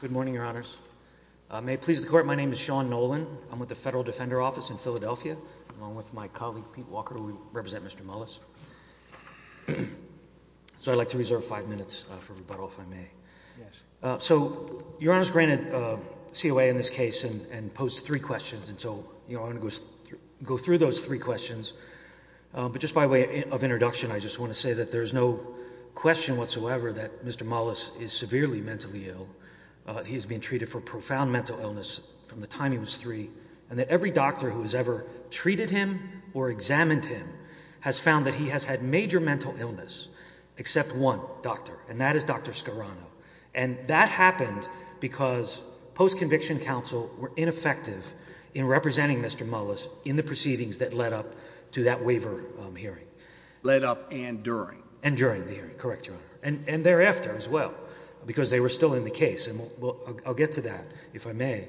Good morning, Your Honors. May it please the Court, my name is Sean Nolan. I'm with the Federal Defender Office in Philadelphia, along with my colleague Pete Walker, who will represent Mr. Mullis. So I'd like to reserve five minutes for rebuttal, if I may. So Your Honors granted COA in this case and posed three questions, and so I'm going to go through those three questions. I just want to say that there's no question whatsoever that Mr. Mullis is severely mentally ill. He has been treated for profound mental illness from the time he was three, and that every doctor who has ever treated him or examined him has found that he has had major mental illness, except one doctor, and that is Dr. Scarano. And that happened because post-conviction counsel were ineffective in representing Mr. Mullis in the proceedings that led up to that waiver hearing. Led up and during? And during the hearing, correct, Your Honor. And thereafter as well, because they were still in the case, and I'll get to that, if I may.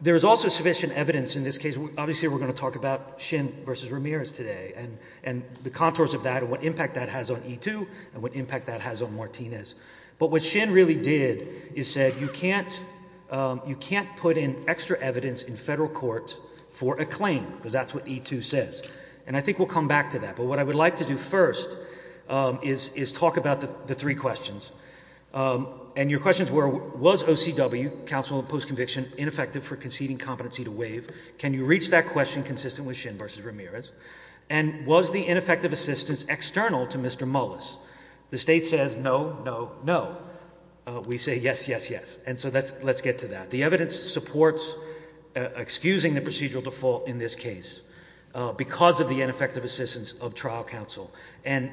There is also sufficient evidence in this case, obviously we're going to talk about Shin v. Ramirez today, and the contours of that and what impact that has on E2 and what impact that has on Martinez. But what a claim, because that's what E2 says. And I think we'll come back to that. But what I would like to do first is talk about the three questions. And your questions were, was OCW, counsel of post-conviction, ineffective for conceding competency to waive? Can you reach that question consistently with Shin v. Ramirez? And was the ineffective assistance external to Mr. Mullis? The State says no, no, no. We say yes, yes, yes. And so let's get to that. The evidence supports excusing the procedural default in this case because of the ineffective assistance of trial counsel. And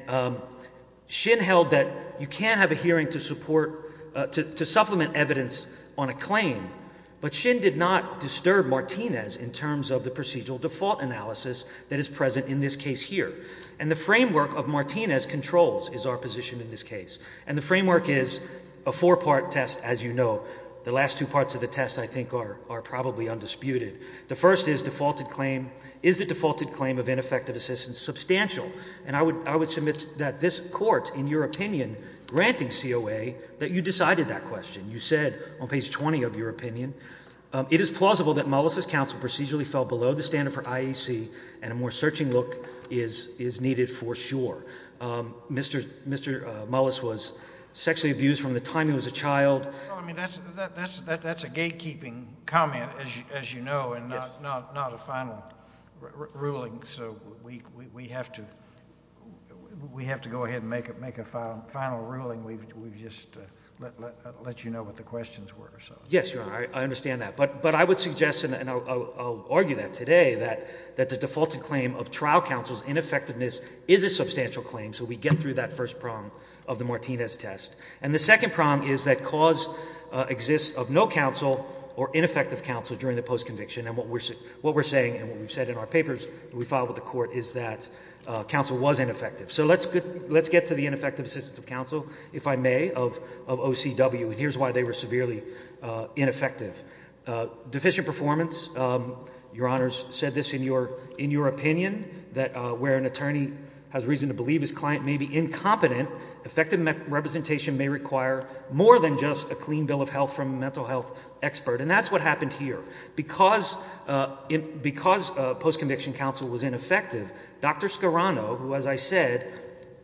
Shin held that you can have a hearing to support, to supplement evidence on a claim, but Shin did not disturb Martinez in terms of the procedural default analysis that is present in this case here. And the framework of Martinez controls is our position in this case. And the framework is a four-part test, as you know. The last two parts of the test, I think, are probably undisputed. The first is defaulted claim. Is the defaulted claim of ineffective assistance substantial? And I would submit that this Court, in your opinion, granting COA, that you decided that question. You said on page 20 of your opinion, it is plausible that Mullis's counsel procedurally fell below the standard for IEC and a more searching look is needed for sure. Mr. Mullis was sexually abused from the time he was a child. Well, I mean, that's a gatekeeping comment, as you know, and not a final ruling. So we have to go ahead and make a final ruling. We've just let you know what the questions were. Yes, Your Honor, I understand that. But I would suggest, and I'll argue that today, that the defaulted claim of trial counsel's ineffectiveness is a substantial claim. So we get through that first prong of the Martinez test. And the second prong is that cause exists of no counsel or ineffective counsel during the post-conviction. And what we're saying and what we've said in our papers that we filed with the Court is that counsel was ineffective. So let's get to the ineffective assistance of counsel, if I may, of OCW. And here's why they were severely ineffective. Deficient performance. Your Honor's said this in your opinion, that where an attorney has reason to believe his client may be incompetent, effective representation may require more than just a clean bill of health from a mental health expert. And that's what happened here. Because post-conviction counsel was ineffective, Dr. Scarano, who, as I said,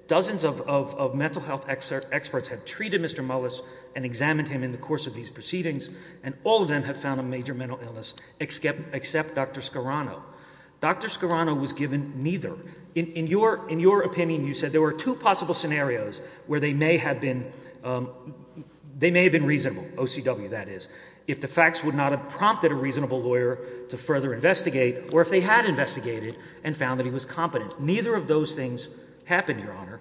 dozens of mental health experts have treated Mr. Mullis and examined him in the course of these proceedings, and all of them have found a major mental illness except Dr. Scarano. Dr. Scarano was given neither. In your opinion, you said there were two possible scenarios where they may have been reasonable, OCW, that is, if the facts would not have prompted a reasonable lawyer to further investigate, or if they had investigated and found that he was competent. Neither of those things happened, Your Honor.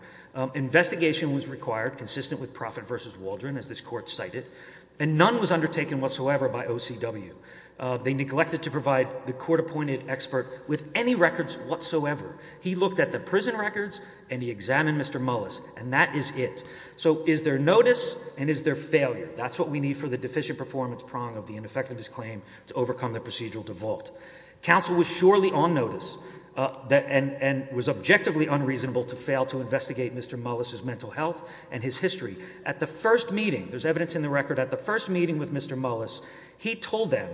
Investigation was required, consistent with Profitt v. Waldron, as this Court cited, and none was undertaken whatsoever by OCW. They neglected to provide the court-appointed expert with any records whatsoever. He looked at the prison records and he examined Mr. Mullis, and that is it. So is there notice and is there failure? That's what we need for the deficient performance prong of the ineffectiveness claim to overcome the procedural default. Counsel was surely on notice and was objectively unreasonable to fail to investigate Mr. Mullis's mental health and his history. At the first meeting, there's evidence in the record, at the first meeting with Mr. Mullis, he told them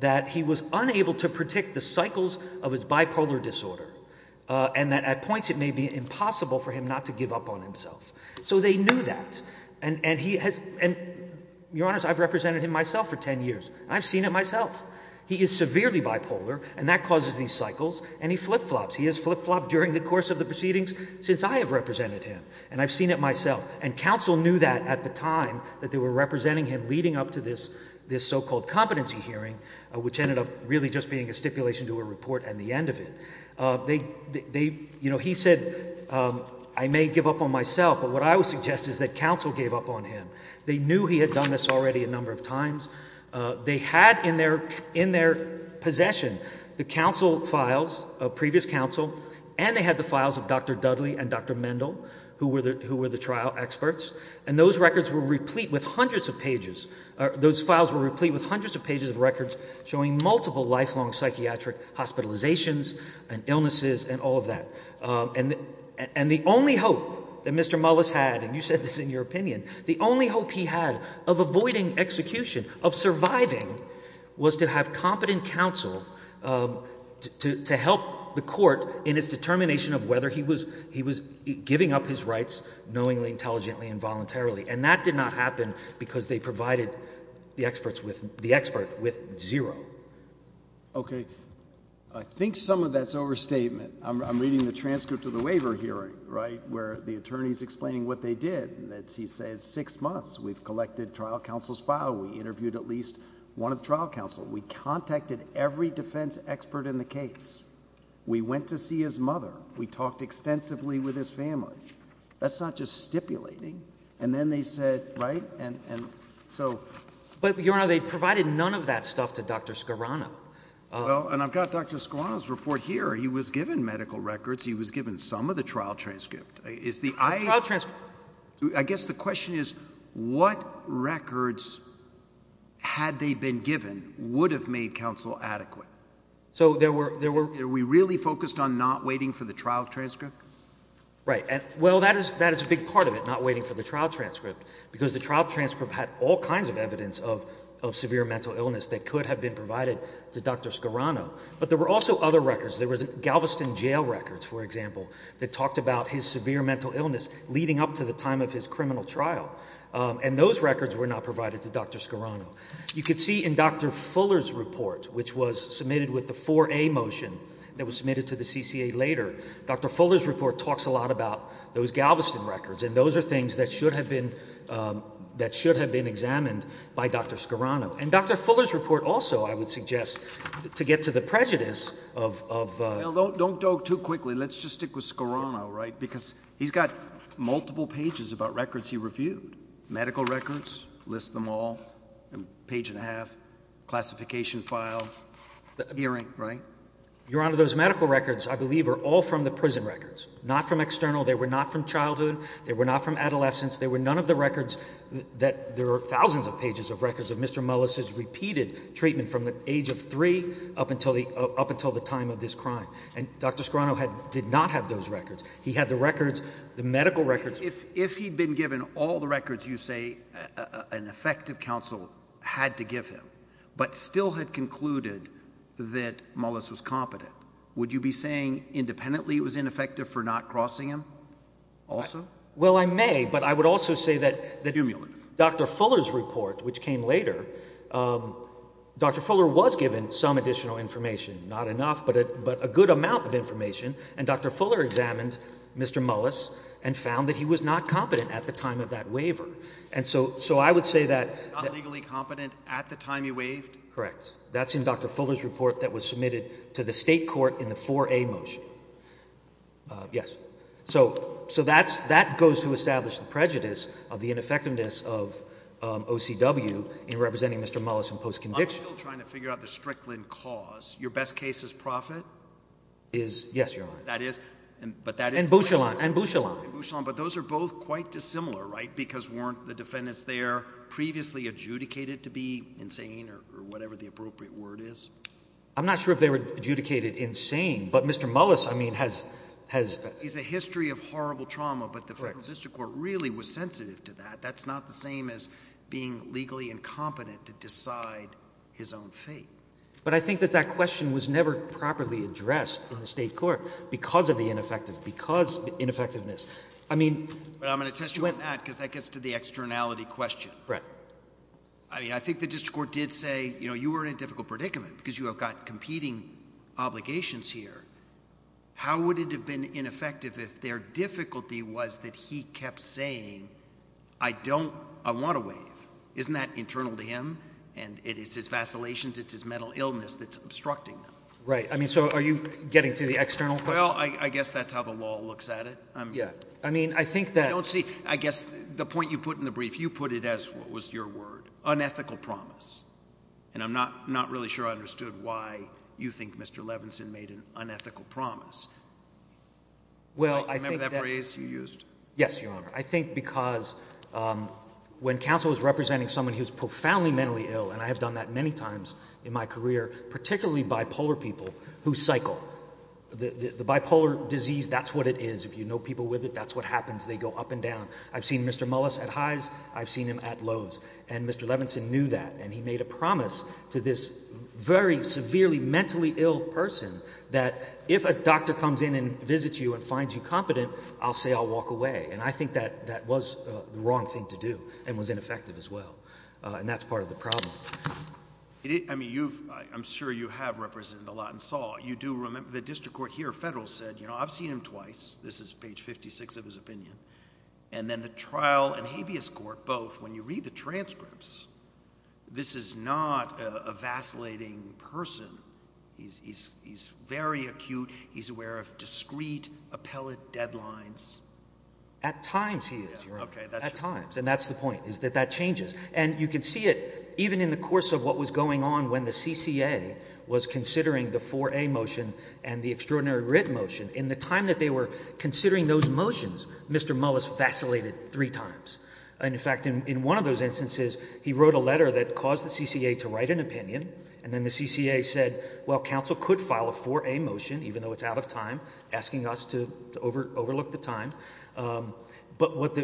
that he was unable to predict the cycles of his bipolar disorder, and that at points it may be impossible for him not to give up on himself. So they knew that, and he has, and Your Honor, I've represented him myself for ten years. I've seen it myself. He is severely bipolar, and that causes these cycles, and he flip-flops. He has flip-flopped during the course of the proceedings since I have represented him, and I've seen it myself. And counsel knew that at the time that they were representing him leading up to this so-called competency hearing, which ended up really just being a stipulation to a report and the end of it. They, you know, he said, I may give up on myself, but what I would suggest is that counsel gave up on him. They knew he had done this already a number of times. They had in their possession the counsel files of previous counsel, and they had the files of Dr. Dudley and Dr. Mendel, who were the trial experts, and those records were replete with hundreds of pages, those files were replete with hundreds of pages of records showing multiple lifelong psychiatric hospitalizations and illnesses and all of that. And the only hope that Mr. Mullis had, and you said this in your opinion, the only hope he had of avoiding execution, of surviving, was to have competent counsel to help the court in its determination of whether he was giving up his rights knowingly, intelligently, and voluntarily. And that did not happen because they provided the expert with zero. Okay. I think some of that's overstatement. I'm reading the transcript of the waiver hearing, right, where the attorney is explaining what they did. He said six months, we've collected trial counsel's file, we interviewed at least one of the trial counsel, we contacted every one of them, we talked extensively with his family. That's not just stipulating. And then they said, right, and so. But Your Honor, they provided none of that stuff to Dr. Scarano. Well, and I've got Dr. Scarano's report here. He was given medical records, he was given some of the trial transcript. The trial transcript. I guess the question is, what records had they been given would have made counsel adequate? So there were Are we really focused on not waiting for the trial transcript? Right. Well, that is a big part of it, not waiting for the trial transcript, because the trial transcript had all kinds of evidence of severe mental illness that could have been provided to Dr. Scarano. But there were also other records. There was Galveston jail records, for example, that talked about his severe mental illness leading up to the time of his criminal trial. And those records were not provided to Dr. Scarano. You could see in Dr. Fuller's report, which was submitted with the 4A motion that was submitted to the CCA later, Dr. Fuller's report talks a lot about those Galveston records. And those are things that should have been examined by Dr. Scarano. And Dr. Fuller's report also, I would suggest, to get to the prejudice of Don't go too quickly. Let's just stick with Scarano, right? Because he's got multiple pages about records he reviewed. Medical records, list them all, page and a half, classification file, hearing, right? Your Honor, those medical records, I believe, are all from the prison records, not from external. They were not from childhood. They were not from adolescence. They were none of the records that there are thousands of pages of records of Mr. Mullis's repeated treatment from the age of three up until the up until the time of this crime. And Dr. Fuller, if he'd been given all the records you say an effective counsel had to give him, but still had concluded that Mullis was competent, would you be saying independently it was ineffective for not crossing him also? Well I may, but I would also say that Dr. Fuller's report, which came later, Dr. Fuller was given some additional information, not enough, but a good amount of information. And Dr. Fuller examined Mr. Mullis and found that he was not competent at the time of that waiver. And so I would say that He was not legally competent at the time he waived? Correct. That's in Dr. Fuller's report that was submitted to the state court in the 4A motion. Yes. So that goes to establish the prejudice of the ineffectiveness of OCW in representing Mr. Mullis in post-conviction. I'm still trying to figure out the Strickland cause. Your best case is Proffitt? Yes, Your Honor. And Bouchillon? And Bouchillon. But those are both quite dissimilar, right? Because weren't the defendants there previously adjudicated to be insane or whatever the appropriate word is? I'm not sure if they were adjudicated insane, but Mr. Mullis, I mean, has He's a history of horrible trauma, but the federal district court really was sensitive to that. That's not the same as being legally incompetent to decide his own fate. But I think that that question was never properly addressed in the state court because of the ineffective, because of the ineffectiveness. I mean... But I'm going to test you on that because that gets to the externality question. Right. I mean, I think the district court did say, you know, you were in a difficult predicament because you have got competing obligations here. How would it have been ineffective if their difficulty was that he kept saying, I don't, I want to waive. Isn't that internal to him? And it is his vacillations. It's his mental illness that's obstructing them. Right. I mean, so are you getting to the external? Well, I guess that's how the law looks at it. I mean, I think that... I don't see, I guess the point you put in the brief, you put it as what was your word, unethical promise. And I'm not really sure I understood why you think Mr. Levinson made an unethical promise. Remember that phrase you used? Yes, Your Honor. I think because when counsel was representing someone who's profoundly mentally ill, and I have done that many times in my career, particularly bipolar people who cycle, the bipolar disease, that's what it is. If you know people with it, that's what happens. They go up and down. I've seen Mr. Mullis at highs. I've seen him at lows. And Mr. Levinson knew that. And he made a promise to this very severely mentally ill person that if a doctor comes in and visits you and finds you competent, I'll say, I'll walk away. And I think that that was the wrong thing to do and was ineffective as well. And that's part of the problem. I mean, you've, I'm sure you have represented a lot in Saul. You do remember the district court here, federal, said, you know, I've seen him twice. This is page 56 of his opinion. And then the trial and habeas court, both, when you read the transcripts, this is not a vacillating person. He's very acute. He's aware of discrete appellate deadlines. At times, he is at times. And that's the point is that that changes. And you can see it even in the course of what was going on when the CCA was considering the for a motion and the extraordinary writ motion in the time that they were considering those motions. Mr. Mullis vacillated three times. And in fact, in one of those instances, he wrote a letter that caused the CCA to write an opinion. And then the CCA said, well, counsel could file a for a motion, even though it's out of time, asking us to overlook the time. But what the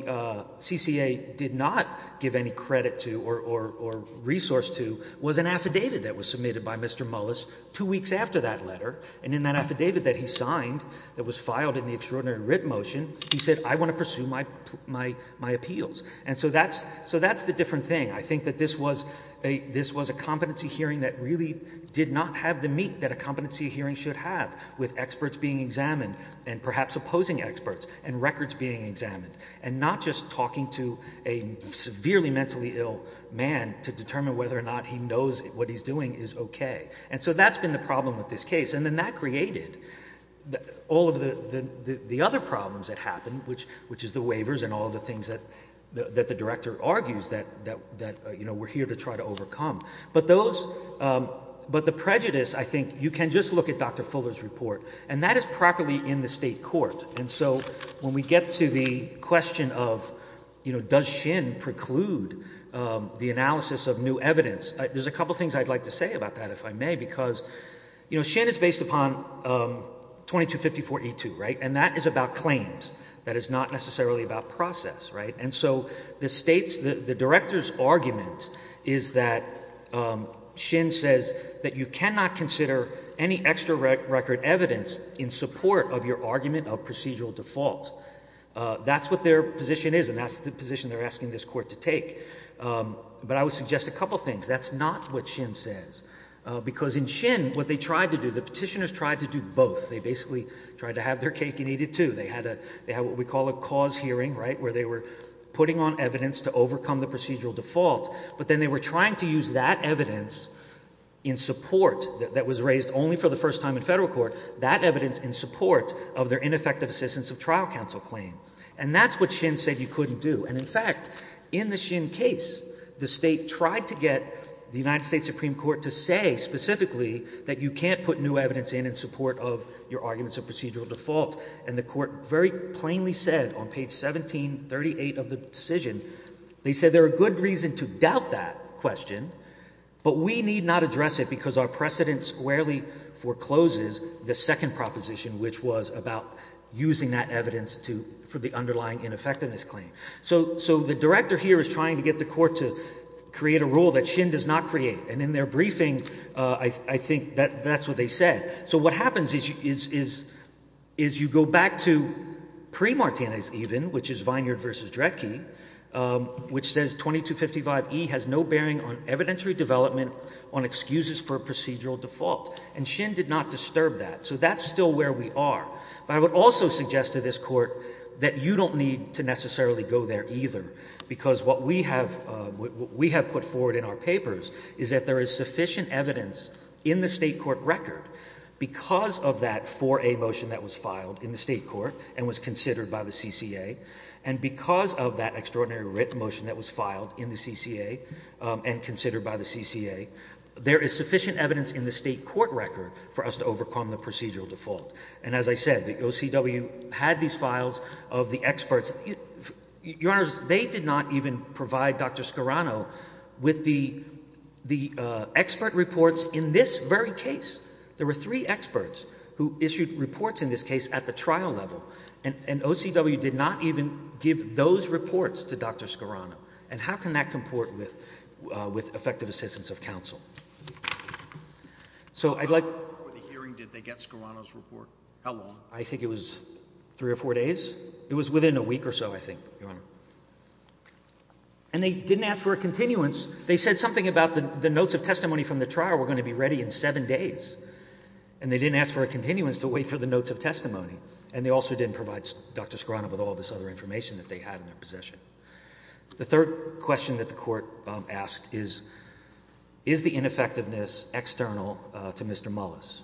CCA did not give any credit to or resource to was an affidavit that was submitted by Mr. Mullis two weeks after that letter. And in that affidavit that he signed, that was filed in the extraordinary writ motion, he said, I want to pursue my appeals. And so that's the different thing. I think that this was a competency hearing that really did not have the meat that a competency hearing should have, with experts being examined, and perhaps opposing experts, and records being examined, and not just talking to a severely mentally ill man to determine whether or not he knows what he's doing is okay. And so that's been the problem with this case. And then that created all of the other problems that happened, which is the waivers and all the things that the director argues that we're here to try to overcome. But the prejudice, I think, you can just look at Dr. Fuller's report. And that is properly in the state court. And so when we get to the question of does Shin preclude the analysis of new evidence, there's a couple things I'd like to say about that, if I may, because Shin is based upon 2254E2, right? And that is about claims. That is not necessarily about process, right? And so the state's, the director's argument is that Shin says that you cannot consider any extra record evidence in support of your argument of procedural default. That's what their position is, and that's the position they're asking this court to take. But I would suggest a couple things. That's not what Shin says. Because in Shin, what they tried to do, the petitioners tried to do both. They basically tried to have their cake and eat it, too. They had what we call a cause hearing, right, where they were putting on evidence to overcome the procedural default. But then they were trying to use that evidence in support that was raised only for the first time in federal court, that evidence in support of their ineffective assistance of trial counsel claim. And that's what Shin said you couldn't do. And in fact, in the Shin case, the state tried to get the United States Supreme Court to say specifically that you can't put new evidence in in support of your arguments of procedural default. The court very plainly said on page 1738 of the decision, they said there are good reason to doubt that question, but we need not address it because our precedent squarely forecloses the second proposition, which was about using that evidence for the underlying ineffectiveness claim. So the director here is trying to get the court to create a rule that Shin does not create. And in their back to pre-Martinez even, which is Vineyard v. Drecke, which says 2255E has no bearing on evidentiary development on excuses for procedural default. And Shin did not disturb that. So that's still where we are. But I would also suggest to this court that you don't need to necessarily go there either, because what we have put forward in our papers is that there is sufficient evidence in the state court record because of that 4A motion that was filed in the state court and was considered by the CCA. And because of that extraordinary writ motion that was filed in the CCA and considered by the CCA, there is sufficient evidence in the state court record for us to overcome the procedural default. And as I said, the OCW had these files of the experts. Your The expert reports in this very case, there were three experts who issued reports in this case at the trial level. And OCW did not even give those reports to Dr. Scarano. And how can that comport with effective assistance of counsel? So I'd like... How long before the hearing did they get Scarano's report? How long? I think it was three or four days. It was within a week or so, I think, Your Honor. And they didn't ask for a continuance. They said something about the notes of testimony from the trial were going to be ready in seven days. And they didn't ask for a continuance to wait for the notes of testimony. And they also didn't provide Dr. Scarano with all this other information that they had in their possession. The third question that the court asked is, is the ineffectiveness external to Mr. Mullis?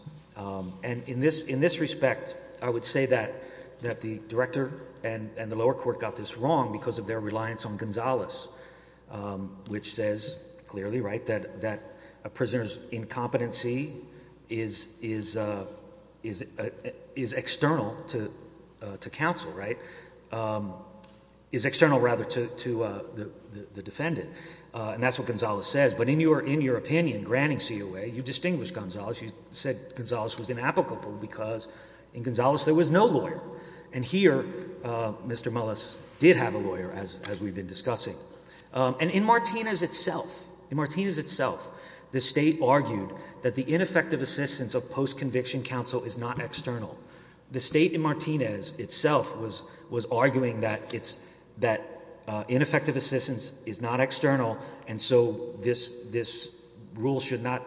And in this respect, I would say that the director and the lower court got this wrong because of their reliance on Gonzales, which says clearly that a prisoner's incompetency is external to counsel, right? Is external rather to the defendant. And that's what Gonzales says. But in your opinion, granting COA, you distinguished Gonzales. You said Gonzales was no lawyer. And here, Mr. Mullis did have a lawyer, as we've been discussing. And in Martinez itself, the state argued that the ineffective assistance of post-conviction counsel is not external. The state in Martinez itself was arguing that ineffective assistance is not external, and so this rule should not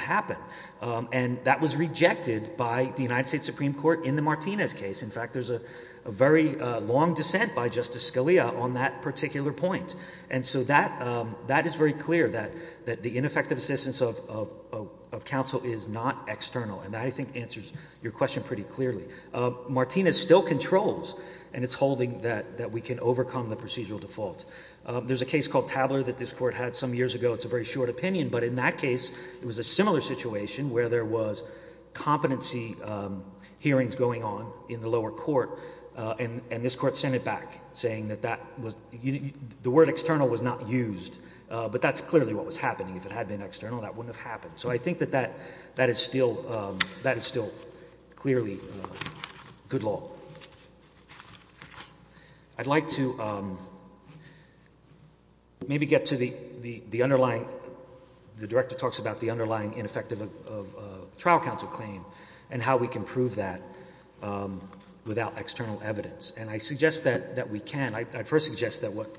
happen. And that was rejected by the United States Supreme Court in Martinez's case. In fact, there's a very long dissent by Justice Scalia on that particular point. And so that is very clear, that the ineffective assistance of counsel is not external. And that, I think, answers your question pretty clearly. Martinez still controls, and it's holding that we can overcome the procedural default. There's a case called Tabler that this court had some years ago. It's a very short opinion. But in that case, it was a similar situation where there was competency hearings going on in the lower court, and this court sent it back saying that that was, the word external was not used. But that's clearly what was happening. If it had been external, that wouldn't have happened. So I think that that is still clearly good law. I'd like to maybe get to the underlying, the Director talks about the underlying ineffective trial counsel claim and how we can prove that without external evidence. And I suggest that we can. I first suggest that what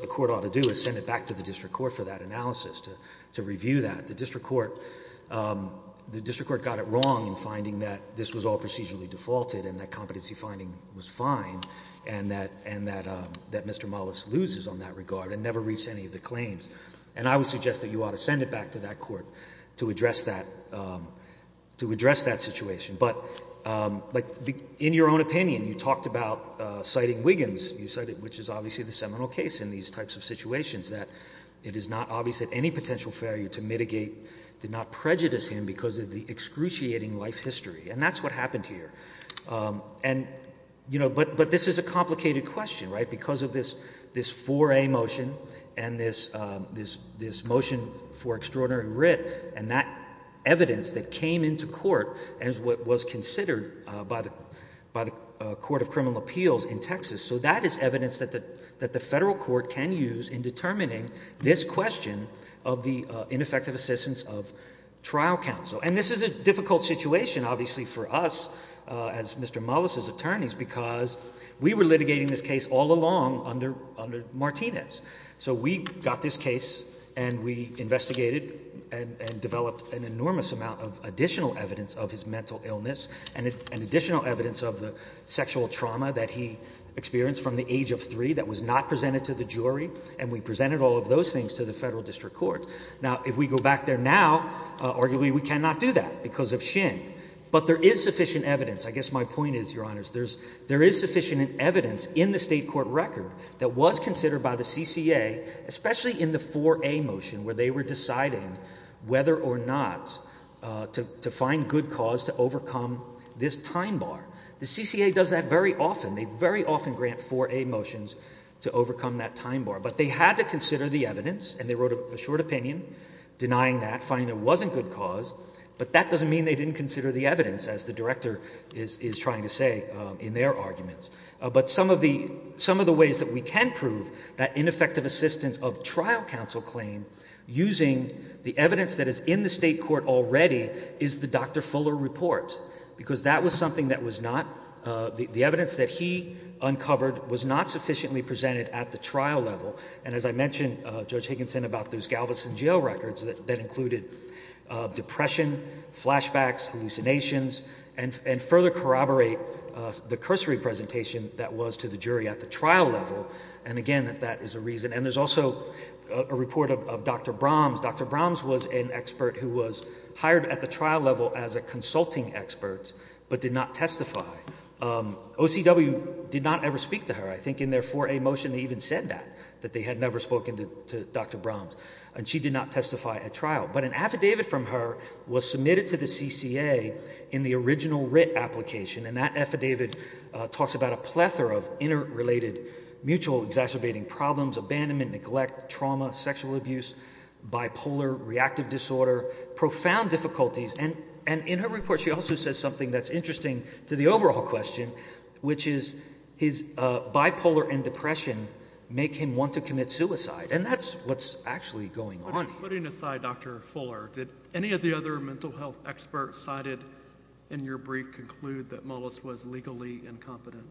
the court ought to do is send it back to the district court for that analysis, to review that. The district court got it wrong in finding that this was all procedurally defaulted and that competency finding was fine, and that Mr. Mullis loses on that regard and never reached any of the claims. And I would suggest that you ought to send it back to that court to address that situation. But in your own opinion, you talked about citing Wiggins, which is obviously the seminal case in these types of situations, that it is not obvious that any potential failure to mitigate did not prejudice him because of the excruciating life history. And that's what happened here. But this is a complicated question, right, because of this 4A motion and this motion for extraordinary writ and that evidence that came into court as what was considered by the Court of Criminal Appeals in Texas. So that is evidence that the federal court can use in determining this question of the ineffective assistance of trial counsel. And this is a difficult situation, obviously, for us as Mr. Mullis's attorneys, because we were litigating this case all along under Martinez. So we got this case and we investigated and developed an enormous amount of additional evidence of his mental illness and additional evidence of the sexual trauma that he experienced from the age of 3 that was not presented to the jury, and we presented all of those things to the federal district court. Now, if we go back there now, arguably we cannot do that because of Shin. But there is sufficient evidence. I guess my point is, Your Honors, there is sufficient evidence in the state court record that was considered by the CCA, especially in the 4A motion, where they were deciding whether or not to find good cause to overcome this time bar. The CCA does that very often. They very often grant 4A motions to overcome that time bar. But they had to consider the evidence, and they wrote a short opinion denying that, finding there wasn't good cause. But that doesn't mean they didn't consider the evidence, as the Director is trying to say in their arguments. But some of the ways that we can prove that ineffective assistance of trial counsel claim using the evidence that is in the state court already is the Dr. Fuller report, because that was something that was not, the evidence that he uncovered was not sufficiently presented at the trial level. And as I mentioned, Judge Higginson, about those Galveston jail records that included depression, flashbacks, hallucinations, and further corroborate the cursory presentation that was to the jury at the trial level. And again, that is a reason. And there's also a report of Dr. Brahms. Dr. Brahms was an expert who was hired at the trial level as a consulting expert, but did not testify. OCW did not ever speak to her. I think in their 4A motion, they even said that, that they had never spoken to Dr. Brahms. And she did not testify at trial. But an affidavit from her was submitted to the CCA in the original writ application. And that affidavit talks about a plethora of interrelated mutual exacerbating problems, abandonment, neglect, trauma, sexual abuse, bipolar, reactive disorder, profound difficulties. And in her report, she also says something that's interesting to the overall question, which is his bipolar and make him want to commit suicide. And that's what's actually going on. Putting aside Dr. Fuller, did any of the other mental health experts cited in your brief conclude that Mullis was legally incompetent?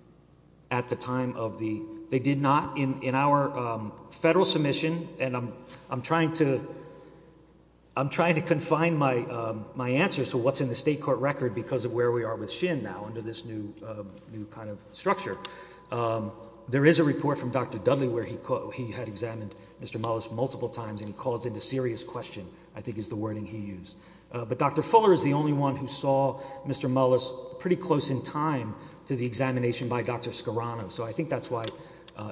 At the time of the, they did not. In our federal submission, and I'm trying to, I'm trying to confine my answers to what's in the state court record because of where we are with SHIN now under this new kind of structure. There is a report from Dr. Dudley where he had examined Mr. Mullis multiple times and he calls it a serious question, I think is the wording he used. But Dr. Fuller is the only one who saw Mr. Mullis pretty close in time to the examination by Dr. Scarano. So I think that's why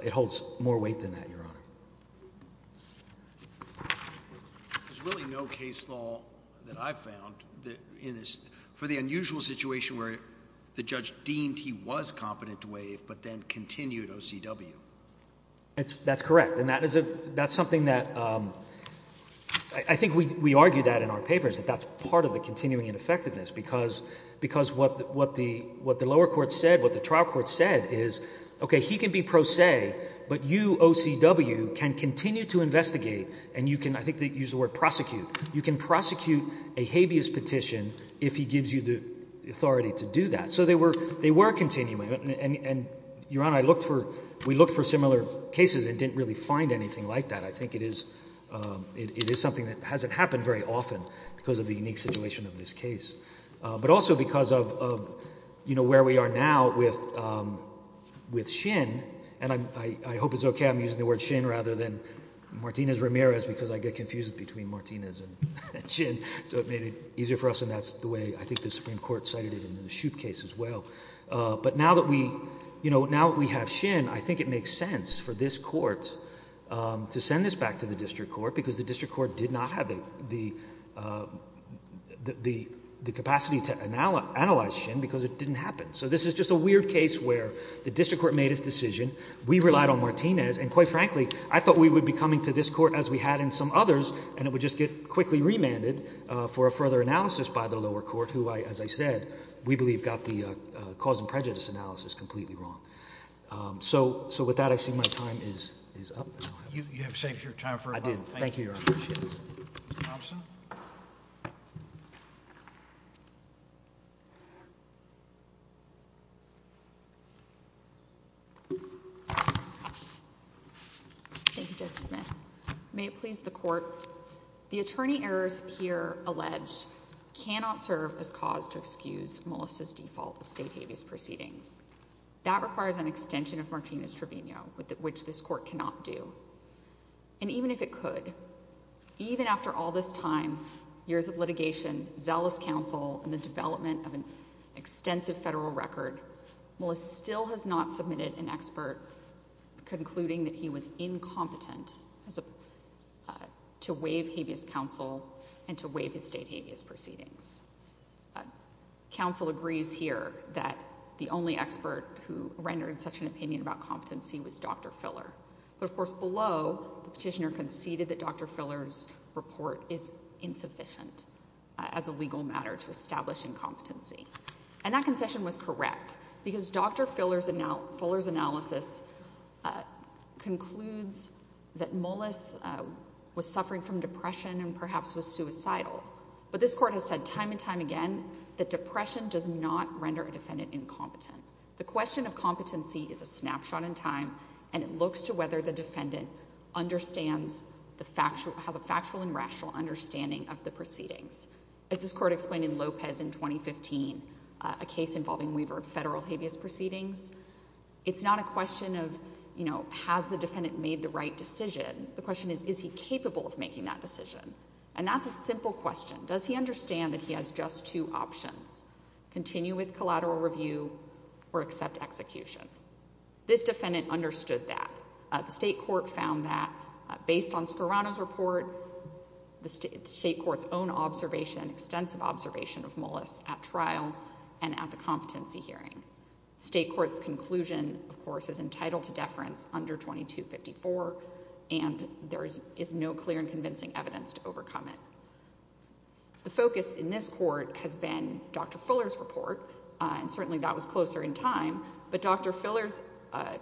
it holds more weight than that, your honor. There's really no case law that I've found that in this, for the unusual situation where the judge deemed he was competent to waive, but then continued OCW. That's correct. And that is a, that's something that, um, I think we, we argued that in our papers, that that's part of the continuing ineffectiveness because, because what the, what the, what the lower court said, what the trial court said is, okay, he can be pro se, but you OCW can continue to investigate and you can, I think they use the word prosecute. You can prosecute a habeas petition if he gives you the authority to do that. So they were, they were continuing and, and your honor, I looked for, we looked for similar cases and didn't really find anything like that. I think it is, um, it is something that hasn't happened very often because of the unique situation of this case. Uh, but also because of, of, you know, where we are now with, um, with Shin and I, I hope it's okay, I'm using the word Shin rather than Martinez Ramirez because I get confused between Martinez and Shin. So it made it easier for us. And that's the way I think the Supreme Court cited it in the Shoup case as well. Uh, but now that we, you know, now that we have Shin, I think it makes sense for this court, um, to send this back to the district court because the district court did not have the, um, the, the, the capacity to analyze, analyze Shin because it didn't happen. So this is just a weird case where the district court made his decision. We relied on Martinez and quite frankly, I thought we would be coming to this court as we had in some others and it would just get quickly remanded, uh, for a further analysis by the lower court who I, as I said, we believe got the, uh, uh, cause and prejudice analysis completely wrong. Um, so, so with that, I did. Thank you. Thank you, Judge Smith. May it please the court. The attorney errors here alleged cannot serve as cause to excuse Melissa's default of state habeas proceedings. That requires an extension of Martinez Trevino with which this court cannot do. And even if it could, even after all this time, years of litigation, zealous council and the development of an extensive federal record, Melissa still has not submitted an expert concluding that he was incompetent as a, uh, to waive habeas counsel and to waive his state habeas proceedings. Uh, counsel agrees here that the only expert who rendered such an opinion about competency was Dr. Filler. But of course, below the petitioner conceded that Dr. Filler's report is insufficient as a legal matter to establish incompetency. And that concession was correct because Dr. Filler's analysis, uh, concludes that Molis, uh, was suffering from depression and perhaps was suicidal. But this court has said time and time again, that depression does not and it looks to whether the defendant understands the factual, has a factual and rational understanding of the proceedings. As this court explained in Lopez in 2015, a case involving waiver of federal habeas proceedings. It's not a question of, you know, has the defendant made the right decision? The question is, is he capable of making that decision? And that's a simple question. Does he understand that he has just two options, continue with collateral review or accept execution? This defendant understood that. Uh, the state court found that, uh, based on Scorano's report, the state court's own observation, extensive observation of Molis at trial and at the competency hearing. State court's conclusion, of course, is entitled to deference under 2254 and there is no clear and convincing evidence to overcome it. The focus in this court has been Dr. Fuller's report, uh, and certainly that was closer in time, but Dr. Fuller's, uh,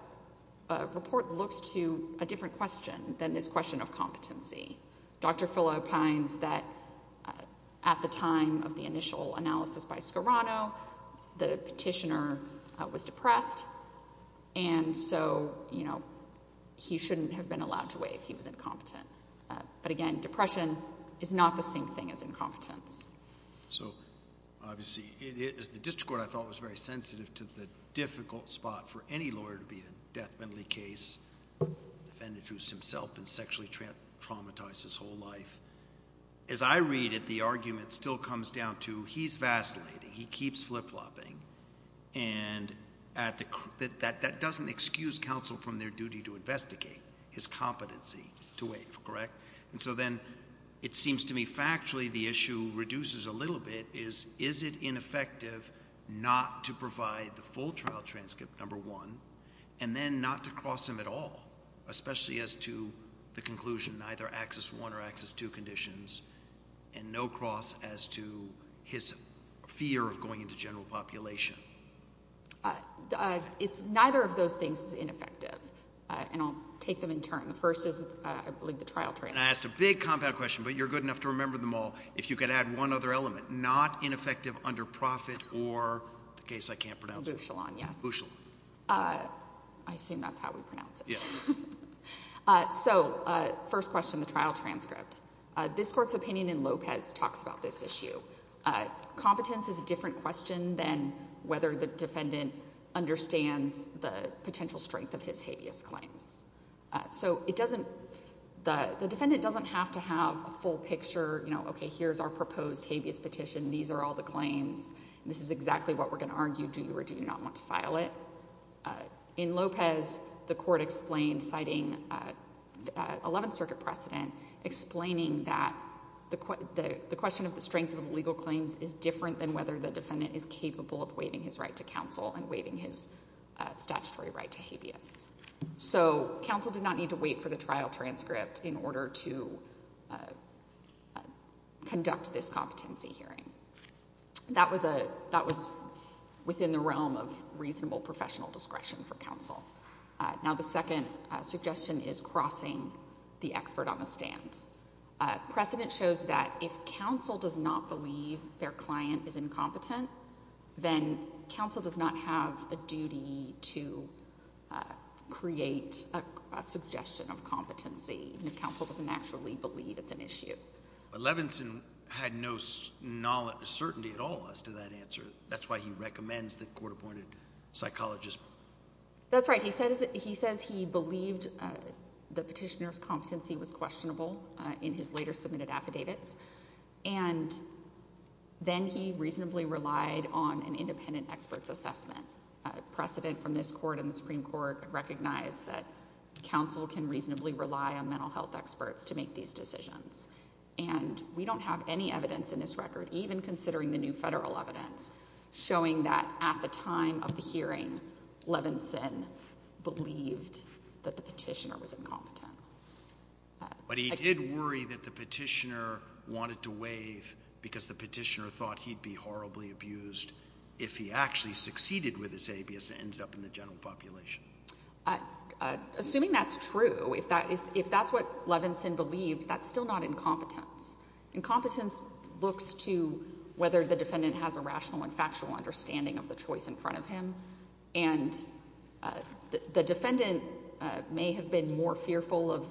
uh, report looks to a different question than this question of competency. Dr. Fuller opines that, uh, at the time of the initial analysis by Scorano, the petitioner was depressed and so, you know, he shouldn't have been allowed to waive. He was incompetent. So, obviously, it is the district court I thought was very sensitive to the difficult spot for any lawyer to be in a death penalty case, defendant who's himself been sexually traumatized his whole life. As I read it, the argument still comes down to he's vacillating. He keeps flip-flopping and at the, that, that doesn't excuse counsel from their issue. Reduces a little bit is, is it ineffective not to provide the full trial transcript number one and then not to cross him at all, especially as to the conclusion, neither access one or access two conditions and no cross as to his fear of going into general population. Uh, uh, it's neither of those things is ineffective, uh, and I'll take them in turn. The first is, uh, I believe the trial transcript. I asked a big compound question, but you're good enough to remember them all. If you could add one other element, not ineffective under profit or the case I can't pronounce. Uh, I assume that's how we pronounce it. Uh, so, uh, first question, the trial transcript, uh, this court's opinion in Lopez talks about this issue. Uh, competence is a different question than whether the defendant understands the potential strength of his habeas claims. So it doesn't, the defendant doesn't have to have a full picture, you know, okay, here's our proposed habeas petition. These are all the claims and this is exactly what we're going to argue. Do you or do you not want to file it? Uh, in Lopez, the court explained citing, uh, uh, 11th circuit precedent explaining that the, the, the question of the strength of legal claims is different than whether the defendant is capable of waiving his right to counsel and waiving his statutory right to habeas. So counsel did not need to wait for the trial transcript in order to, uh, uh, conduct this competency hearing. That was a, that was within the realm of reasonable professional discretion for counsel. Uh, now the second suggestion is crossing the expert on the stand. Uh, precedent shows that if counsel does not believe their client is incompetent, then counsel does not have a duty to, uh, create a suggestion of competency. And if counsel doesn't actually believe it's an issue. But Levinson had no knowledge, certainty at all as to that answer. That's why he recommends the court appointed psychologist. That's right. He says that he says he believed, uh, the petitioner's competency was questionable in his later submitted affidavits. And then he reasonably relied on an independent experts assessment precedent from this court and the Supreme Court recognize that counsel can reasonably rely on mental health experts to make these decisions. And we don't have any evidence in this record, even considering the new federal evidence showing that at the time of the hearing, Levinson believed that the petitioner was incompetent. But he did worry that the petitioner wanted to waive because the petitioner thought he'd be horribly abused if he actually succeeded with his ABS and ended up in the general population. Assuming that's true. If that is, if that's what Levinson believed, that's still not incompetence. Incompetence looks to whether the defendant has a rational and factual understanding of the choice in front of him. And, uh, the defendant, uh, may have been more fearful of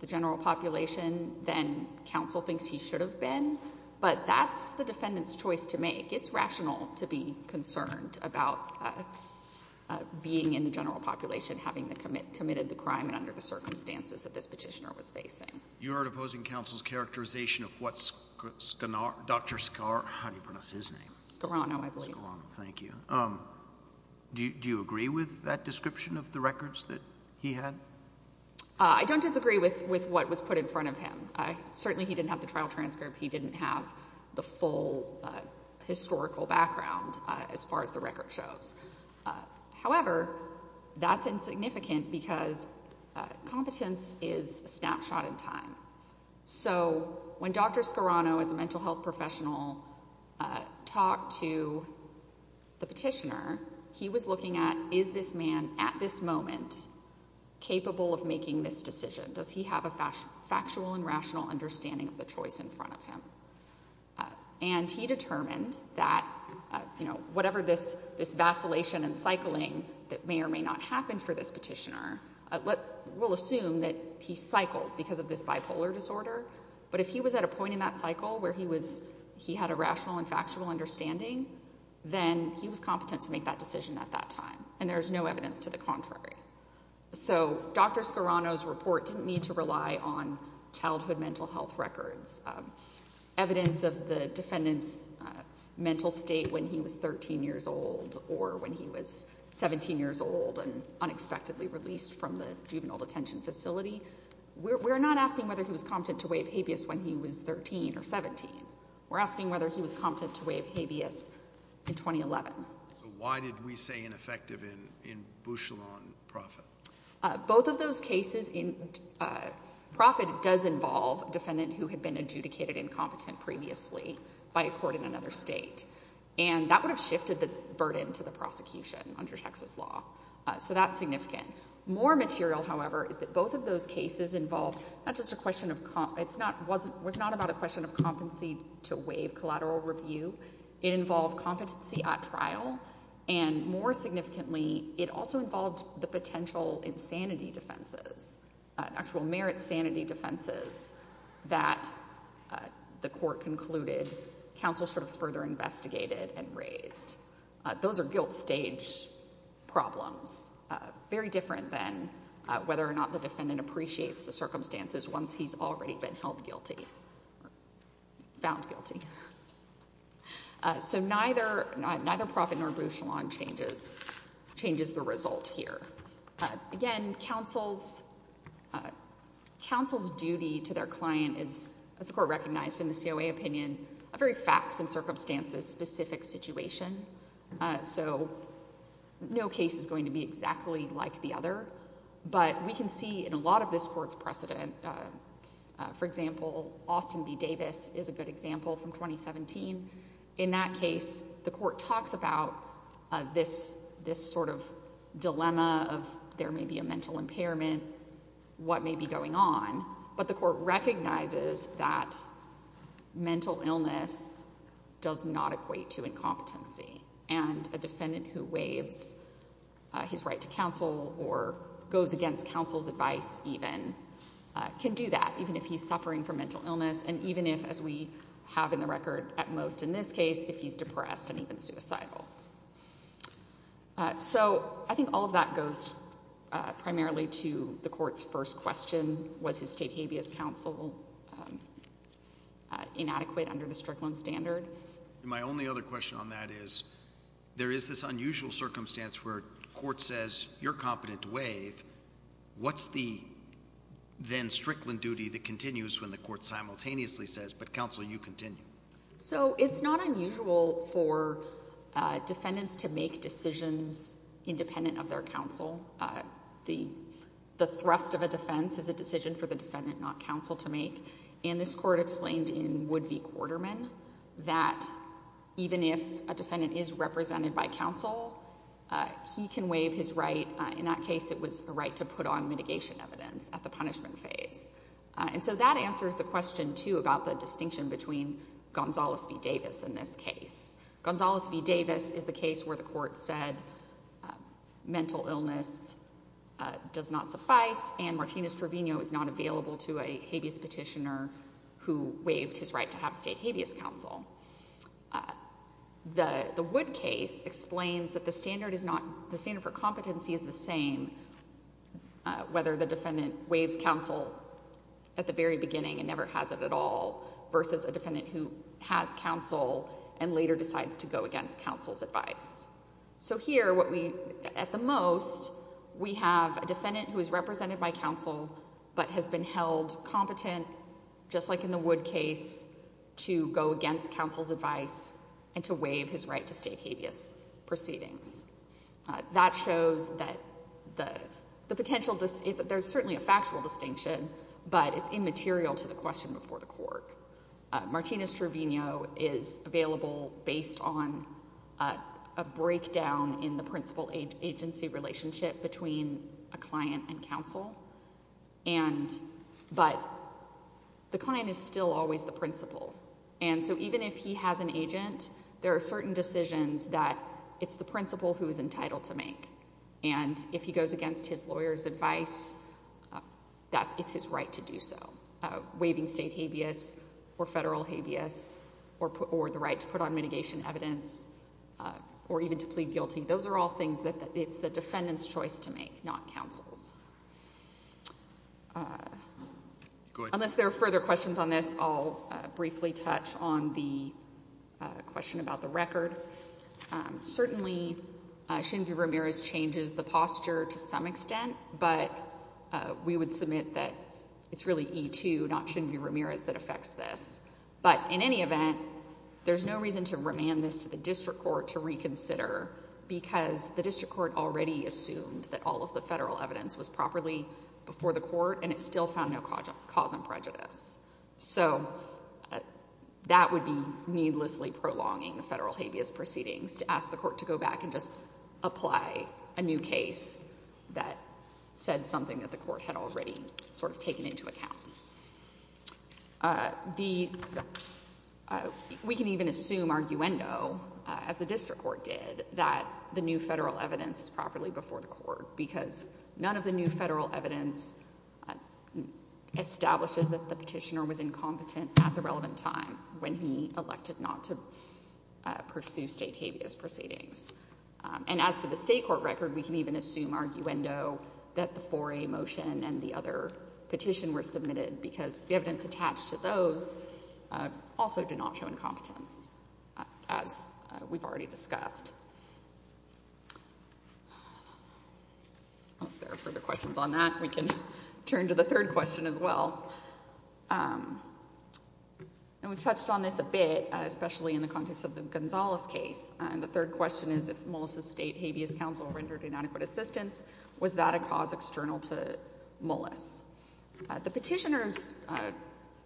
the general population than counsel thinks he should have been, but that's the defendant's choice to make. It's rational to be concerned about, uh, uh, being in the general population, having the commit committed the crime and under the circumstances that this petitioner was facing. You heard opposing counsel's characterization of what's Skanar, Dr. Scar. How do you pronounce his name? I believe. Thank you. Um, do you, do you agree with that description of the records that he had? Uh, I don't disagree with, with what was put in front of him. I certainly, he didn't have the trial transcript. He didn't have the full, uh, historical background, uh, as far as the record shows. Uh, however, that's insignificant because, uh, competence is a snapshot in time. So when Dr. Scarano as a mental health professional, uh, talked to the petitioner, he was looking at, is this man at this moment capable of making this decision? Does he have a factual and rational understanding of the choice in front of him? Uh, and he determined that, uh, you know, whatever this, this vacillation and cycling that may or may not happen for this bipolar disorder, but if he was at a point in that cycle where he was, he had a rational and factual understanding, then he was competent to make that decision at that time. And there's no evidence to the contrary. So Dr. Scarano's report didn't need to rely on childhood mental health records, um, evidence of the defendant's mental state when he was 13 years old or when he was 17 years old and unexpectedly released from the juvenile detention facility. We're not asking whether he was competent to waive habeas when he was 13 or 17. We're asking whether he was competent to waive habeas in 2011. So why did we say ineffective in, in Bouchillon and Proffitt? Both of those cases in, uh, Proffitt does involve a defendant who had been adjudicated incompetent previously by a court in another state. And that would have shifted the burden to the prosecution under Texas law. Uh, so that's significant. More material, however, is that both of those cases involve not just a question of comp, it's not, wasn't, was not about a question of competency to waive collateral review. It involved competency at trial and more significantly, it also involved the potential insanity defenses, uh, actual merit sanity defenses that, uh, the court concluded counsel should have further investigated and raised. Uh, those are guilt stage problems, uh, very different than, uh, whether or not the defendant appreciates the circumstances once he's already been held guilty, found guilty. Uh, so neither, neither Proffitt nor Bouchillon changes, changes the result here. Uh, again, counsel's, uh, counsel's duty to their client is, as the court recognized in the COA opinion, a very facts and circumstances specific situation. Uh, so no case is going to be exactly like the other, but we can see in a lot of this court's precedent, uh, uh, for example, Austin B. Davis is a good example from 2017. In that case, the court talks about, uh, this, this sort of dilemma of there may be a mental impairment, what may be going on, but the court recognizes that mental illness does not equate to incompetency. And a defendant who waives, uh, his right to counsel or goes against counsel's advice even, uh, can do that even if he's suffering from mental illness. And even if, as we have in the record at most in this case, if he's depressed and even suicidal. Uh, so I think all of that goes, uh, primarily to the court's first question, was his state habeas counsel, um, uh, inadequate under the Strickland standard. My only other question on that is there is this unusual circumstance where court says you're competent to waive. What's the then Strickland duty that continues when the court simultaneously says, but counsel, you continue. So it's not unusual for, uh, defendants to make decisions independent of their counsel. Uh, the, the thrust of a defense is a decision for the defendant, not counsel to make. And this court explained in Wood v. Quarterman that even if a defendant is represented by counsel, uh, he can waive his right. Uh, in that case, it was a right to put on mitigation evidence at the punishment phase. Uh, and so that answers the question too, about the distinction between Gonzales v. Davis in this case. Gonzales v. Davis is the case where the mental illness, uh, does not suffice, and Martinez-Trevino is not available to a habeas petitioner who waived his right to have state habeas counsel. Uh, the, the Wood case explains that the standard is not, the standard for competency is the same, uh, whether the defendant waives counsel at the very beginning and never has it at all versus a defendant who has counsel and later decides to go against counsel's advice. So here, what we, at the most, we have a defendant who is represented by counsel but has been held competent, just like in the Wood case, to go against counsel's advice and to waive his right to state habeas proceedings. Uh, that shows that the, the potential, it's, there's certainly a factual distinction, but it's immaterial to the question before the court. Uh, Martinez-Trevino is available based on, uh, a breakdown in the principal age, agency relationship between a client and counsel, and, but the client is still always the principal. And so even if he has an agent, there are certain decisions that it's the principal who is entitled to make. And if he goes against his lawyer's advice, uh, that it's his right to do so. Uh, waiving state habeas or federal habeas or put, or the right to put on mitigation evidence, uh, or even to plead guilty, those are all things that it's the defendant's choice to make, not counsel's. Uh, unless there are further questions on this, I'll, uh, briefly touch on the, uh, question about the record. Um, certainly, uh, Shinvi Ramirez changes the posture to some extent, but, uh, we would submit that it's really E2, not Shinvi Ramirez, that affects this. But in any event, there's no reason to remand this to the district court to reconsider, because the district court already assumed that all of the federal evidence was properly before the court, and it still found no cause, cause and prejudice. So, uh, that would be needlessly prolonging the federal habeas proceedings to ask the court to go back and just said something that the court had already sort of taken into account. Uh, the, uh, we can even assume arguendo, as the district court did, that the new federal evidence is properly before the court, because none of the new federal evidence establishes that the petitioner was incompetent at the relevant time when he elected not to, uh, pursue state habeas proceedings. Um, and as to the state court record, we can even assume arguendo that the 4A motion and the other petition were submitted, because the evidence attached to those, uh, also did not show incompetence, uh, as, uh, we've already discussed. Unless there are further questions on that, we can turn to the third question as well. Um, and we've touched on this a bit, uh, especially in the context of the Gonzalez case, and the third question is if Mullis' state habeas counsel rendered inadequate assistance, was that a cause external to Mullis? Uh, the petitioner's, uh,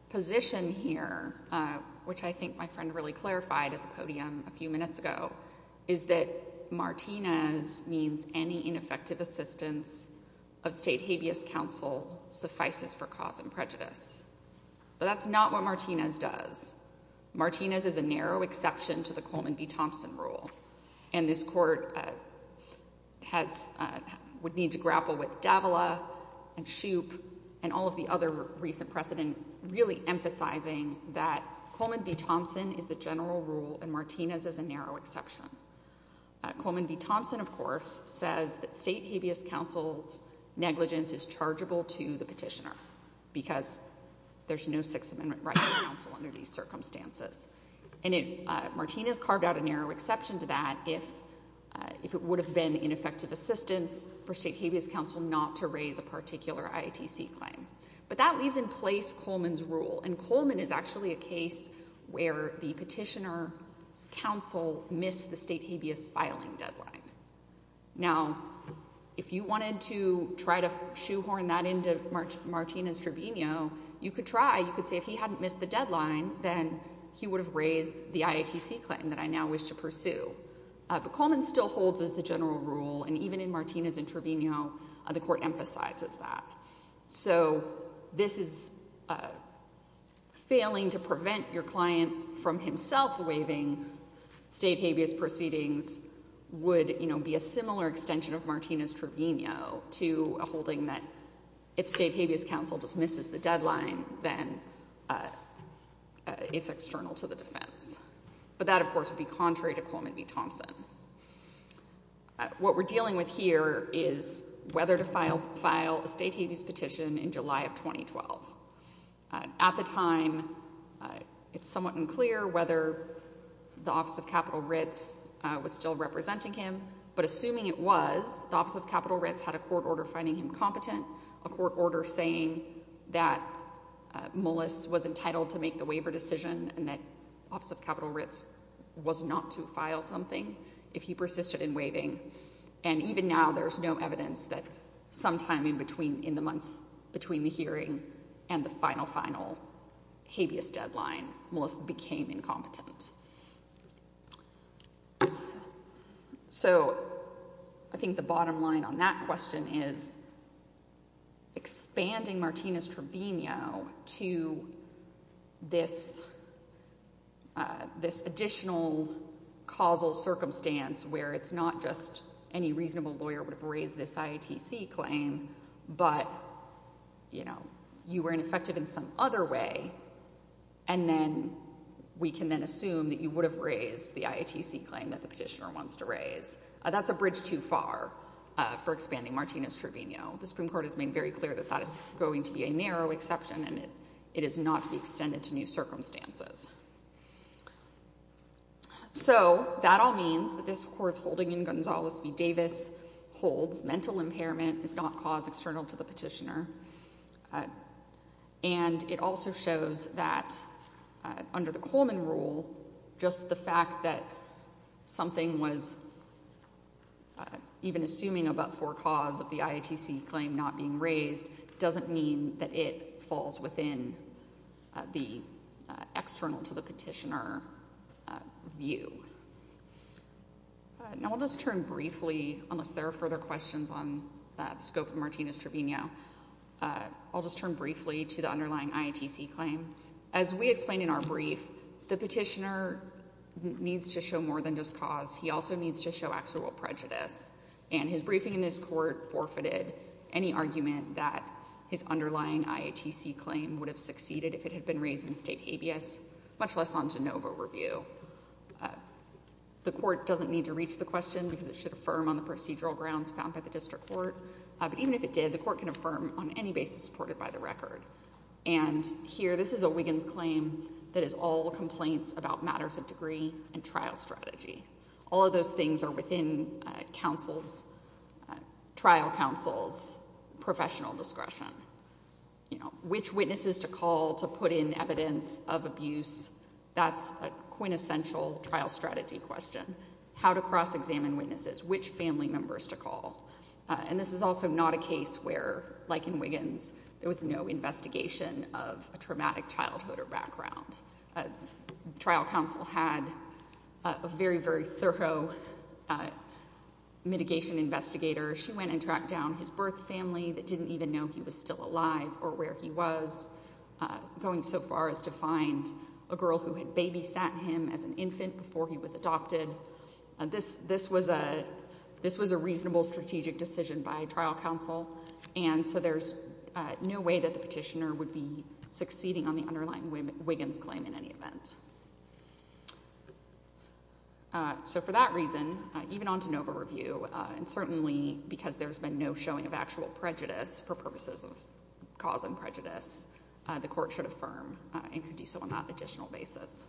position here, uh, which I think my friend really clarified at the podium a few minutes ago, is that Martinez means any ineffective assistance of state habeas counsel suffices for cause and prejudice. But that's not what Martinez does. Martinez is a narrow exception to the Coleman v. Thompson rule, and this court, uh, has, uh, would need to grapple with Davila and Shoup and all of the other recent precedent, really emphasizing that Coleman v. Thompson is the general rule and Martinez is a narrow exception. Uh, Coleman v. Thompson, of course, says that state habeas counsel's negligence is chargeable to the petitioner because there's no Sixth Amendment right of counsel under these circumstances. And it, uh, Martinez carved out a narrow exception to that if, uh, if it would have been ineffective assistance for state habeas counsel not to raise a particular IATC claim. But that leaves in place Coleman's rule, and Coleman is actually a case where the petitioner's state habeas filing deadline. Now, if you wanted to try to shoehorn that into Martinez' tribunio, you could try. You could say, if he hadn't missed the deadline, then he would have raised the IATC claim that I now wish to pursue. Uh, but Coleman still holds as the general rule, and even in Martinez' tribunio, uh, the court emphasizes that. So this is, uh, failing to prevent your client from himself waiving state habeas proceedings would, you know, be a similar extension of Martinez' tribunio to a holding that if state habeas counsel dismisses the deadline, then, uh, uh, it's external to the defense. But that, of course, would be contrary to Coleman v. Thompson. Uh, what we're dealing with here is whether to file, file a state habeas petition in July of 2012. Uh, at the time, uh, it's somewhat unclear whether the Office of Capital Writs, uh, was still representing him, but assuming it was, the Office of Capital Writs had a court order finding him competent, a court order saying that, uh, Mullis was entitled to make the waiver decision and that Office of Capital Writs was not to file something if he persisted in waiving, and even now there's no evidence that sometime in between, in the months between the hearing and the final, final habeas deadline, Mullis became incompetent. So I think the bottom line on that question is expanding Martinez' tribunio to this, uh, additional causal circumstance where it's not just any reasonable lawyer would have raised this IATC claim, but, you know, you were ineffective in some other way, and then we can then assume that you would have raised the IATC claim that the petitioner wants to raise. Uh, that's a bridge too far, uh, for expanding Martinez' tribunio. The Supreme Court has made very clear that that is going to be a narrow exception and it, it is not to be extended to new circumstances. So that all means that this court's holding in Gonzales v. Davis holds mental impairment is not cause external to the petitioner, uh, and it also shows that, uh, under the Coleman rule, just the fact that something was, uh, even assuming about for cause of the IATC claim not being raised doesn't mean that it falls within, uh, the, uh, external to the petitioner, uh, view. Now I'll just turn briefly, unless there are further questions on the scope of Martinez' tribunio, uh, I'll just turn briefly to the underlying IATC claim. As we explained in our brief, the petitioner needs to show more than just cause. He also needs to show actual prejudice, and his briefing in this court forfeited any argument that his underlying IATC claim would have succeeded if it had been raised in state habeas, much less on Genova review. The court doesn't need to reach the question because it should affirm on the procedural grounds found by the district court, but even if it did, the court can affirm on any basis supported by the record. And here, this is a Wiggins claim that is all complaints about matters of degree and trial strategy. All of those things are within, uh, counsel's, trial counsel's professional discretion. You know, which witnesses to call to put in evidence of abuse, that's a quintessential trial strategy question. How to cross-examine witnesses, which family members to call. Uh, and this is also not a case where, like in Wiggins, there was no investigation of a traumatic childhood or background. Trial counsel had a very, very thorough, uh, mitigation investigator. She went and tracked down his birth family that didn't even know he was still alive or where he was, going so far as to find a girl who had babysat him as an infant before he was adopted. This, this was a, this was a reasonable strategic decision by trial counsel. And so there's, uh, no way that the petitioner would be succeeding on the underlying Wiggins claim in any event. Uh, so for that reason, uh, even on de novo review, uh, and certainly because there's been no showing of actual prejudice for purposes of cause and prejudice, uh, the court should affirm, uh, and could do so on that additional basis.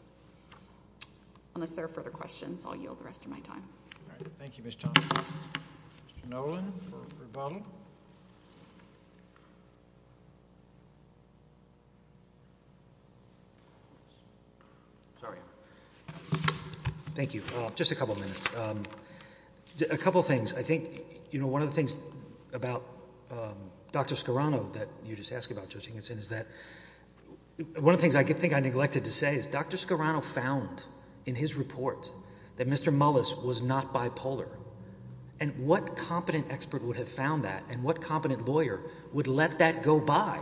Unless there are further questions, I'll yield the rest of my time. All right. Thank you. Mr. Nolan. Sorry. Thank you. Uh, just a couple of minutes. Um, a couple of things. I think, you know, one of the things about, um, Dr. Scarano that you just asked about judging us in is that one of the things I think I neglected to say is Dr. Scarano found in his report that Mr. Mullis was not bipolar and what competent expert would have found that and what competent lawyer would let that go by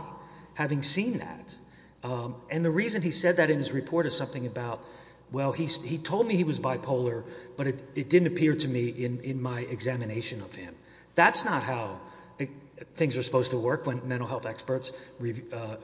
having seen that. Um, and the reason he said that in his report is something about, well, he, he told me he was bipolar, but it, it didn't appear to me in my examination of him. That's not how things are supposed to work when mental health experts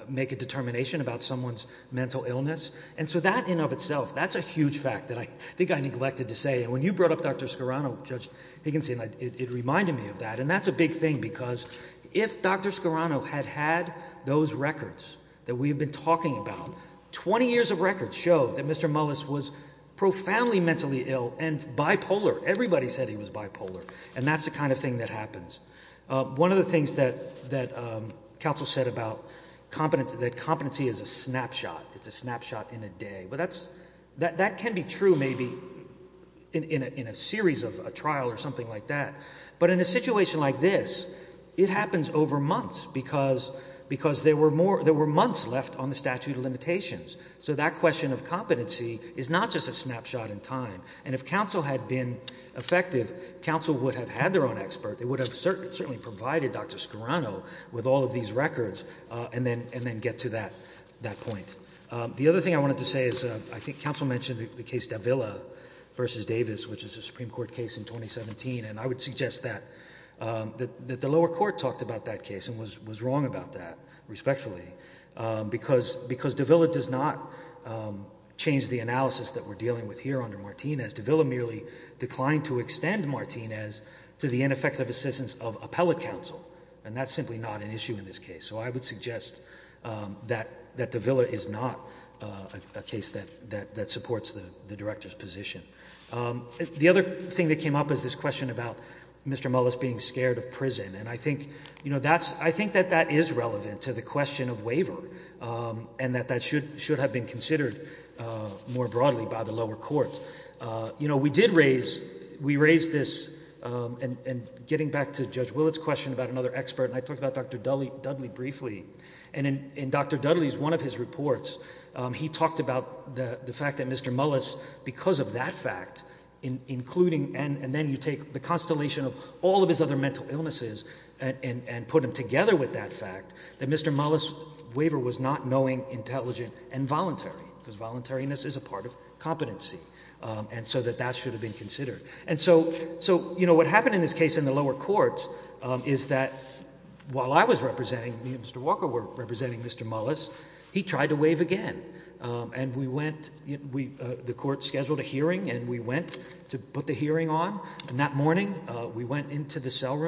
make a determination about someone's mental illness. And so that in of itself, that's a huge fact that I think I neglected to say. And when you brought up Dr. Scarano, Judge Higginson, it reminded me of that. And that's a big thing because if Dr. Scarano had had those records that we've been talking about, 20 years of records show that Mr. Mullis was profoundly mentally ill and bipolar. Everybody said he was bipolar. And that's the kind of thing that happens. Uh, one of the things that, that, um, counsel said about competence, that competency is a snapshot. It's a snapshot in a day, but that's, that, that can be true maybe in, in a, in a series of a trial or something like that. But in a situation like this, it happens over months because, because there were more, there were months left on the statute of limitations. So that question of competency is not just a snapshot in time. And if counsel had been effective, counsel would have had their own expert. They would have certainly provided Dr. Scarano with all of these records, uh, and then, and then get to that, that point. Um, the other thing I wanted to say is, uh, I think counsel mentioned the case Davila versus Davis, which is a Supreme Court case in 2017. And I would suggest that, um, that, that the lower court talked about that case and was, was wrong about that respectfully. Um, because, because Davila does not, um, change the analysis that we're dealing with here under Martinez. Davila merely declined to extend Martinez to the ineffective assistance of appellate counsel. And that's simply not an issue in this case. So I would suggest, um, that, that Davila is not, uh, a case that, that, that supports the, the director's position. Um, the other thing that came up is this question about Mr. Mullis being scared of prison. And I think, you know, that's, I think that that is relevant to the question of waiver, um, and that that should, should have been considered, uh, more broadly by the lower court. Uh, you know, we did raise, we raised this, um, and, and getting back to Judge Willett's question about another expert. And I talked about Dr. Dudley, Dudley briefly. And in, in Dr. Dudley's, one of his reports, um, he talked about the, the fact that Mr. Mullis, because of that fact in including, and, and then you take the constellation of all of his other mental illnesses and, and, and put them together with that fact that Mr. Mullis' waiver was not knowing, intelligent, and voluntary, because voluntariness is a part of competency. Um, and so that that should have been considered. And so, so, you know, what happened in this case in the lower court, um, is that while I was representing me and Mr. Walker were representing Mr. Mullis, he tried to waive again. Um, and we went, we, uh, the court scheduled a hearing and we went to put the hearing on. And that morning, uh, we went into the cell he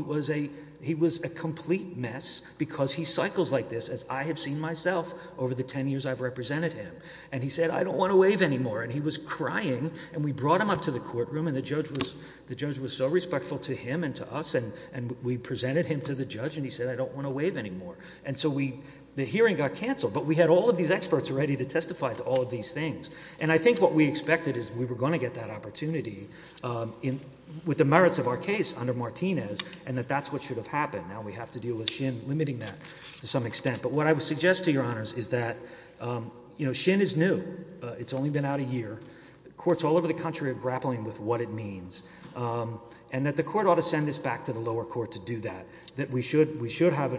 was a, he was a complete mess because he cycles like this as I have seen myself over the 10 years I've represented him. And he said, I don't want to waive anymore. And he was crying and we brought him up to the courtroom and the judge was, the judge was so respectful to him and to us. And, and we presented him to the judge and he said, I don't want to waive anymore. And so we, the hearing got canceled, but we had all of these experts ready to testify to all of these things. And I think what we expected is we were going to get that opportunity, um, in, with the merits of our case under Martinez and that that's what should have happened. Now we have to deal with shin limiting that to some extent, but what I would suggest to your honors is that, um, you know, shin is new. Uh, it's only been out a year, the courts all over the country are grappling with what it means. Um, and that the court ought to send this back to the lower court to do that, that we should, we should have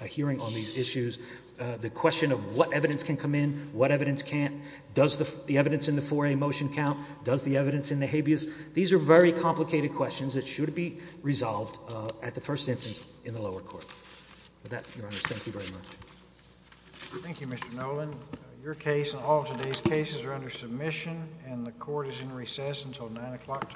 a hearing on these issues. Uh, the question of what evidence can come in, what evidence can't does the evidence in the motion count? Does the evidence in the habeas, these are very complicated questions that should be resolved, uh, at the first instance in the lower court that your honor. Thank you very much. Thank you, Mr. Nolan. Your case and all of today's cases are under submission and the court is in recess until nine o'clock tomorrow.